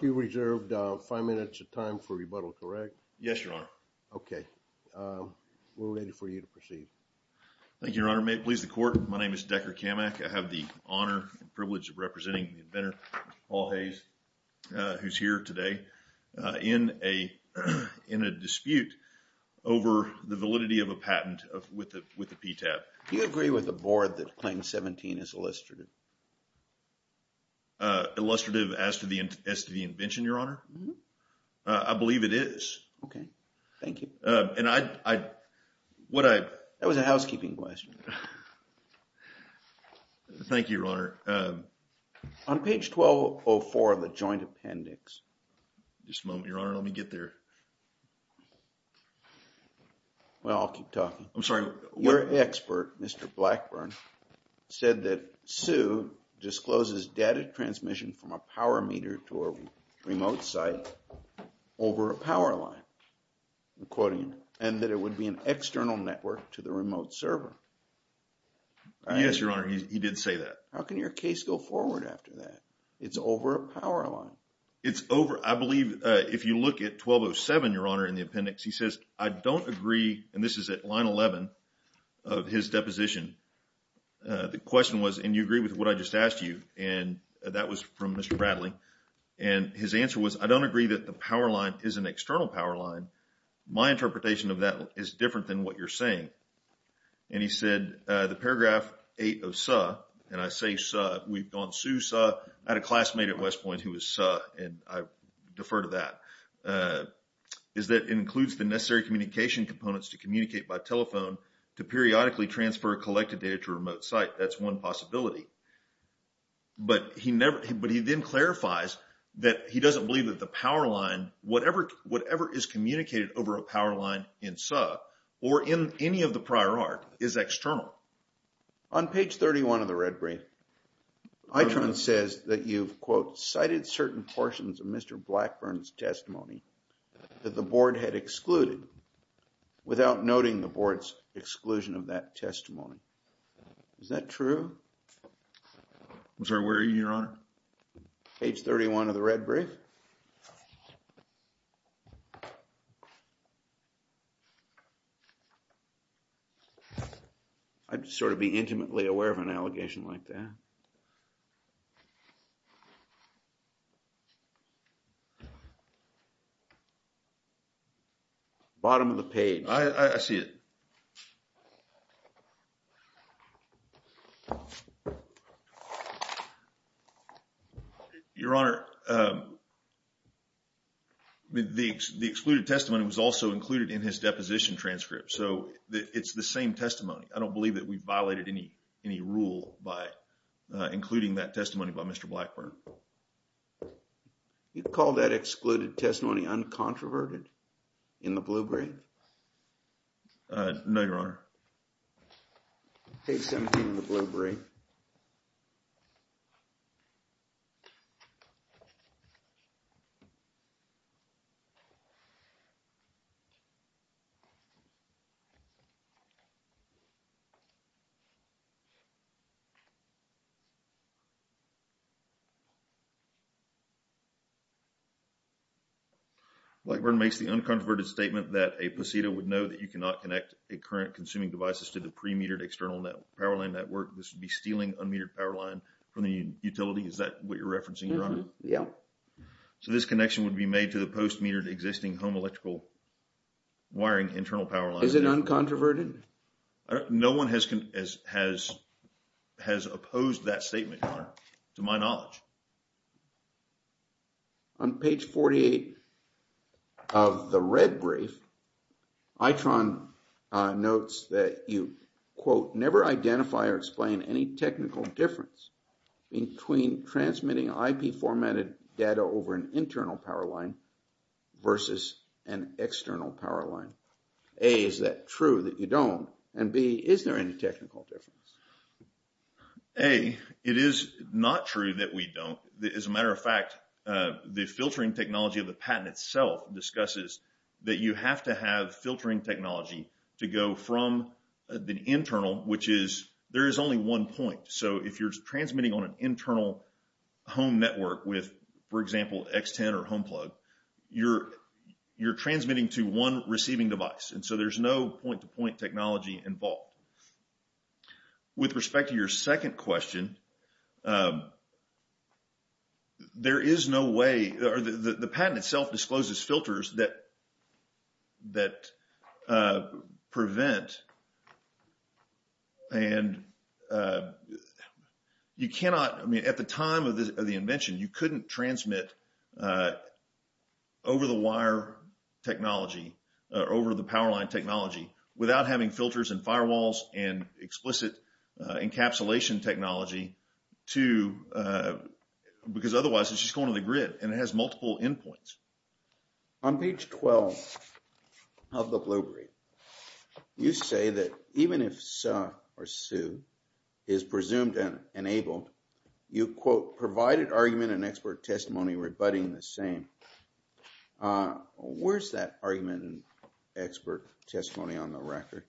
You have five minutes of time for rebuttal, correct? Yes, Your Honor. Okay. We're ready for you to proceed. Thank you, Your Honor. Thank you, Your Honor. May it please the Court. My name is Decker Kamak. I have the honor and privilege of representing the inventor, Paul Hayes, who's here today in a dispute over the validity of a patent with the PTAB. Do you agree with the board that Claim 17 is illustrative? Illustrative as to the invention, Your Honor? I believe it is. Okay. Thank you. And I... What I... That was a housekeeping question. Thank you, Your Honor. On page 1204 of the joint appendix... Just a moment, Your Honor. Let me get there. Well, I'll keep talking. I'm sorry. Your expert, Mr. Blackburn, said that Sue discloses data transmission from a power meter to a remote site over a power line, I'm quoting him, and that it would be an external network to the remote server. I... Yes, Your Honor. He did say that. How can your case go forward after that? It's over a power line. It's over... I believe, if you look at 1207, Your Honor, in the appendix, he says, I don't agree, and this is at line 11 of his deposition. The question was, and you agree with what I just asked you, and that was from Mr. Bradley, and his answer was, I don't agree that the power line is an external power line. My interpretation of that is different than what you're saying, and he said, the paragraph 8 of Sue, and I say Sue, we've gone Sue, Sue, I had a classmate at West Point who was Sue, and I defer to that, is that it includes the necessary communication components to communicate by telephone to periodically transfer collected data to a remote site. That's one possibility, but he then clarifies that he doesn't believe that the power line, whatever is communicated over a power line in Sue, or in any of the prior art, is external. On page 31 of the red brief, Itron says that you've, quote, cited certain portions of Mr. Blackburn's testimony that the board had excluded without noting the board's exclusion of that testimony. Is that true? I'm sorry, where are you, Your Honor? Page 31 of the red brief. I'd sort of be intimately aware of an allegation like that. Bottom of the page. I see it. Your Honor, the excluded testimony was also included in his deposition transcript, so it's the same testimony. I don't believe that we violated any rule by including that testimony by Mr. Blackburn. You call that excluded testimony uncontroverted in the blue brief? No, Your Honor. Page 17 of the blue brief. Blackburn makes the uncontroverted statement that a PECETA would know that you cannot connect a current consuming devices to the pre-metered external power line network. This would be stealing unmetered power line from the utility. Is that what you're referencing, Your Honor? Yeah. So this connection would be made to the post-metered existing home electrical wiring internal power line. Is it uncontroverted? No one has opposed that statement, Your Honor, to my knowledge. On page 48 of the red brief, ITRON notes that you, quote, never identify or explain any transmitting IP formatted data over an internal power line versus an external power line. A, is that true that you don't? And B, is there any technical difference? A, it is not true that we don't. As a matter of fact, the filtering technology of the patent itself discusses that you have to have filtering technology to go from the internal, which is, there is only one point. So if you're transmitting on an internal home network with, for example, X10 or HomePlug, you're transmitting to one receiving device. And so there's no point-to-point technology involved. With respect to your second question, there is no way, or the patent itself discloses filters that prevent, and you cannot, I mean, at the time of the invention, you couldn't transmit over the wire technology, over the power line technology, without having filters and firewalls and explicit encapsulation technology to, because otherwise it's just going to the On page 12 of the BlueBerry, you say that even if SUH, or SUH, is presumed enabled, you quote, provided argument and expert testimony rebutting the same. Where's that argument and expert testimony on the record?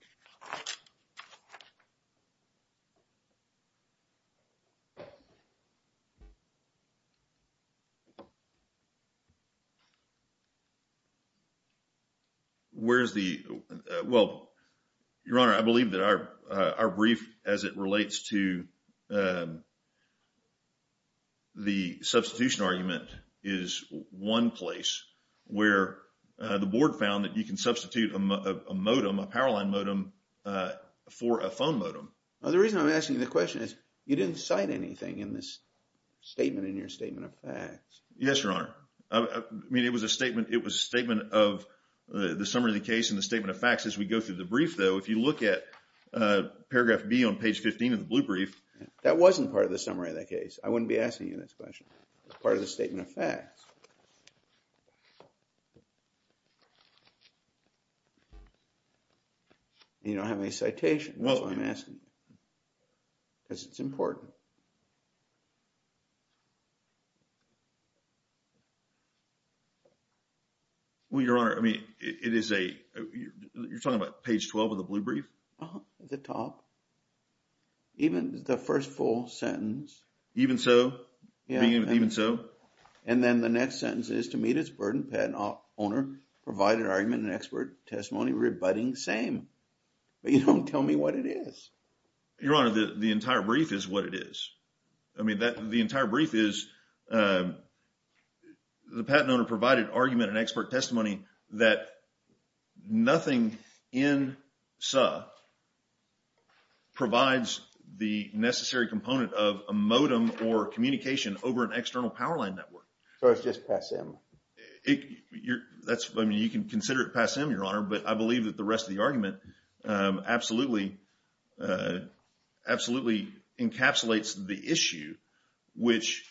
Where's the, well, Your Honor, I believe that our brief, as it relates to the substitution argument, is one place where the board found that you can substitute a modem, a power line modem, for a phone modem. The reason I'm asking the question is, you didn't cite anything in this statement, in your statement of facts. Yes, Your Honor. I mean, it was a statement, it was a statement of the summary of the case and the statement of facts. As we go through the brief, though, if you look at paragraph B on page 15 of the BlueBrief. That wasn't part of the summary of the case. I wouldn't be asking you this question. It's part of the statement of facts. You don't have any citation. That's why I'm asking. Because it's important. Well, Your Honor, I mean, it is a, you're talking about page 12 of the BlueBrief? At the top. Even the first full sentence. Even so? Even so? And then the next sentence is, to meet its burden, patent owner provided argument and expert testimony rebutting same. But you don't tell me what it is. Your Honor, the entire brief is what it is. I mean, the entire brief is, the patent owner provided argument and expert testimony that nothing in S.U.H. provides the necessary component of a modem or communication over an external power line network. So it's just PassM? That's, I mean, you can consider it PassM, Your Honor. But I believe that the rest of the argument absolutely encapsulates the issue, which,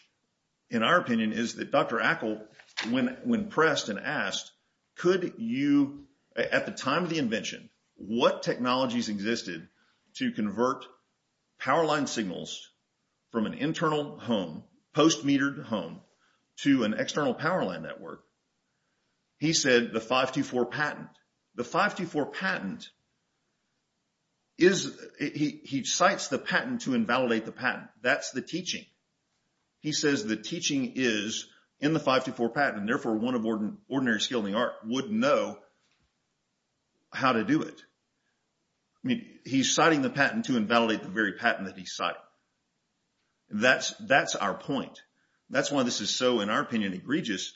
in our opinion, is that Dr. Ackle, when pressed and asked, could you, at the time of the invention, what technologies existed to convert power line signals from an internal home, post-metered home, to an external power line network? He said the 524 patent. The 524 patent is, he cites the patent to invalidate the patent. That's the teaching. He says the teaching is in the 524 patent, and therefore one of ordinary skill in the art would know how to do it. I mean, he's citing the patent to invalidate the very patent that he's citing. That's our point. That's why this is so, in our opinion, egregious,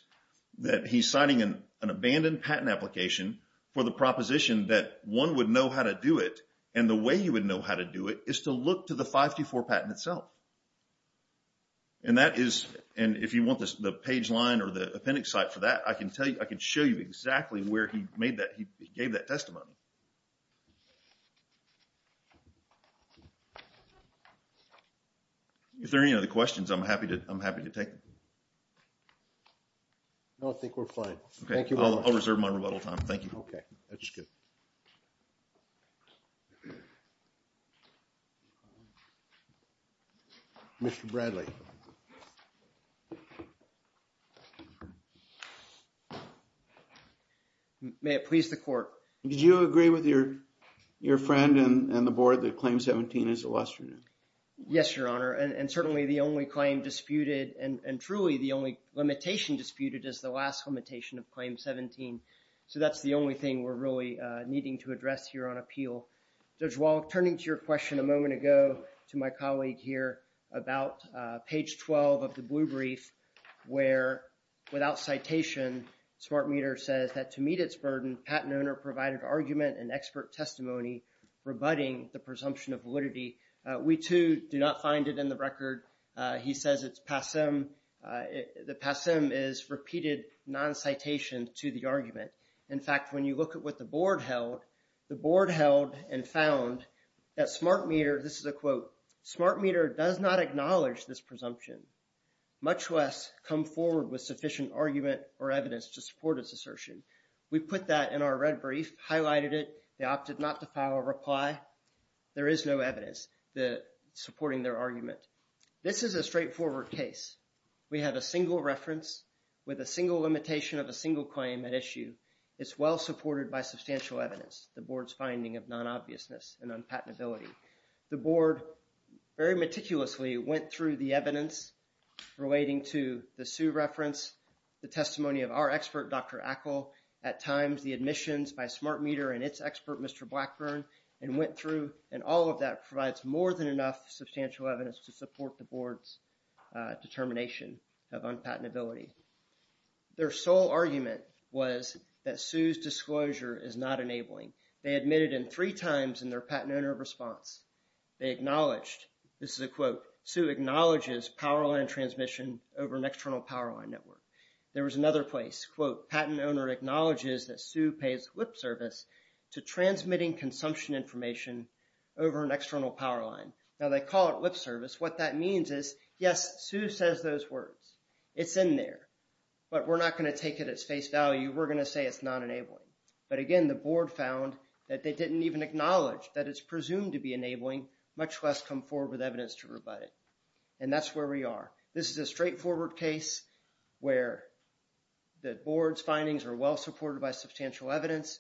that he's citing an abandoned patent application for the proposition that one would know how to do it, and the way you would know how to do it is to look to the 524 patent itself. And that is, and if you want the page line or the appendix site for that, I can tell you, I can show you exactly where he made that, he gave that testimony. If there are any other questions, I'm happy to, I'm happy to take them. No, I think we're fine. Thank you. I'll reserve my rebuttal time. Thank you. Okay. That's good. Mr. Bradley. May it please the court. Did you agree with your friend and the board that Claim 17 is illustrious? Yes, Your Honor, and certainly the only claim disputed, and truly the only limitation disputed is the last limitation of Claim 17. So that's the only thing we're really needing to address here on appeal. Judge Wallach, turning to your question a moment ago, to my colleague here about page 12 of the blue brief, where without citation, Smart Meter says that to meet its burden, patent owner provided argument and expert testimony rebutting the presumption of validity. We too do not find it in the record. He says it's passem. The passem is repeated non-citation to the argument. In fact, when you look at what the board held, the board held and found that Smart Meter, this is a quote, Smart Meter does not acknowledge this presumption, much less come forward with sufficient argument or evidence to support its assertion. We put that in our red brief, highlighted it. They opted not to file a reply. There is no evidence supporting their argument. This is a straightforward case. We have a single reference with a single limitation of a single claim at issue. It's well supported by substantial evidence, the board's finding of non-obviousness and unpatentability. The board very meticulously went through the evidence relating to the Sue reference, the testimony of our expert, Dr. Ackle, at times the admissions by Smart Meter and its expert, Mr. Blackburn, and went through and all of that provides more than enough substantial evidence to support the board's determination of unpatentability. Their sole argument was that Sue's disclosure is not enabling. They admitted in three times in their patent owner response. They acknowledged, this is a quote, Sue acknowledges powerline transmission over an external powerline network. There was another place, quote, Patent owner acknowledges that Sue pays lip service to transmitting consumption information over an external powerline. Now, they call it lip service. What that means is, yes, Sue says those words. It's in there, but we're not going to take it at face value. We're going to say it's not enabling. But again, the board found that they didn't even acknowledge that it's presumed to be enabling, much less come forward with evidence to rebut it. And that's where we are. This is a straightforward case where the board's findings are well supported by substantial evidence.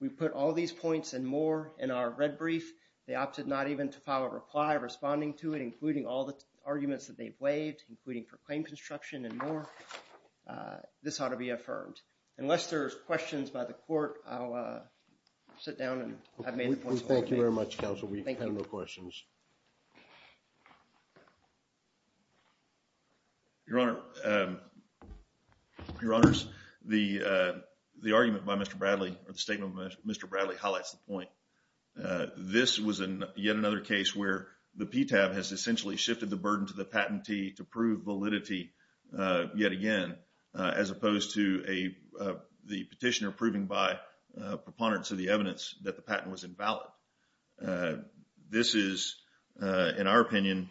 We put all these points and more in our red brief. They opted not even to file a reply responding to it, including all the arguments that they've waived, including for claim construction and more. This ought to be affirmed. Unless there's questions by the court, I'll sit down and I've made the points. Thank you very much, counsel. We have no questions. Your Honor, the argument by Mr. Bradley, or the statement by Mr. Bradley highlights the point. This was yet another case where the PTAB has essentially shifted the burden to the patentee to prove validity yet again, as opposed to the petitioner proving by preponderance of the evidence that the patent was invalid. This is, in our opinion,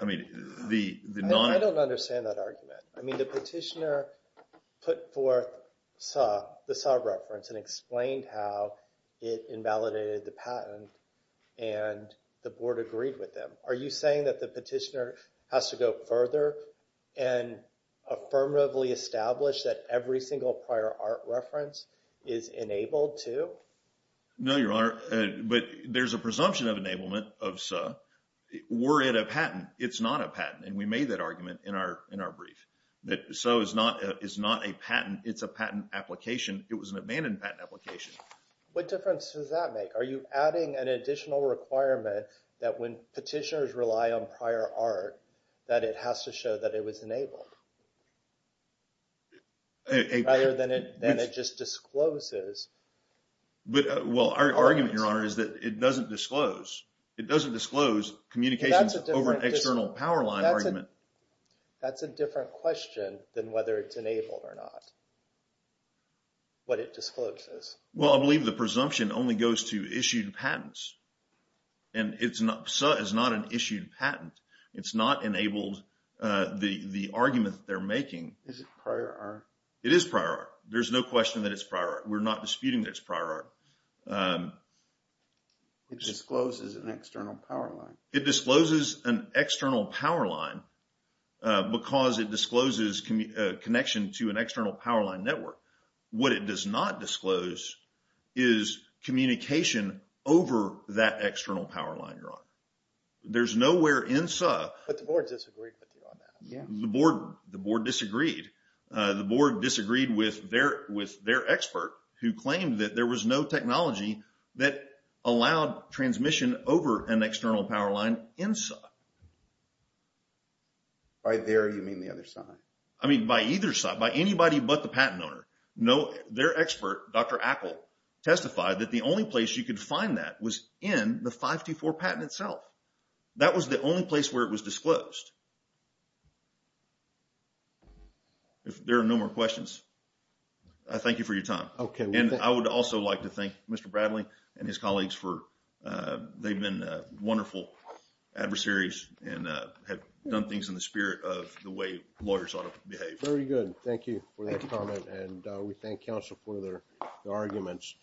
I mean, the non- I don't understand that argument. I mean, the petitioner put forth the SAW reference and explained how it invalidated the patent and the board agreed with them. Are you saying that the petitioner has to go further and affirmatively establish that every single prior art reference is enabled too? No, Your Honor. But there's a presumption of enablement of SAW. We're at a patent. It's not a patent. And we made that argument in our brief that SAW is not a patent. It's a patent application. It was an abandoned patent application. What difference does that make? Are you adding an additional requirement that when petitioners rely on prior art, that it has to show that it was enabled? Prior than it just discloses. Well, our argument, Your Honor, is that it doesn't disclose. It doesn't disclose communications over an external power line argument. That's a different question than whether it's enabled or not. What it discloses. Well, I believe the presumption only goes to issued patents. And SAW is not an issued patent. It's not enabled the argument that they're making. Is it prior art? It is prior art. There's no question that it's prior art. We're not disputing that it's prior art. It discloses an external power line. It discloses an external power line because it discloses connection to an external power line network. What it does not disclose is communication over that external power line, Your Honor. There's nowhere in SAW... But the board disagreed with you on that. The board disagreed. The board disagreed with their expert who claimed that there was no technology that allowed transmission over an external power line in SAW. By there, you mean the other side? I mean, by either side. By anybody but the patent owner. Their expert, Dr. Ackle, testified that the only place you could find that was in the 524 patent itself. That was the only place where it was disclosed. If there are no more questions, I thank you for your time. And I would also like to thank Mr. Bradley and his colleagues for... They've been wonderful adversaries and have done things in the spirit of the way lawyers ought to behave. Very good. Thank you for that comment. And we thank counsel for their arguments.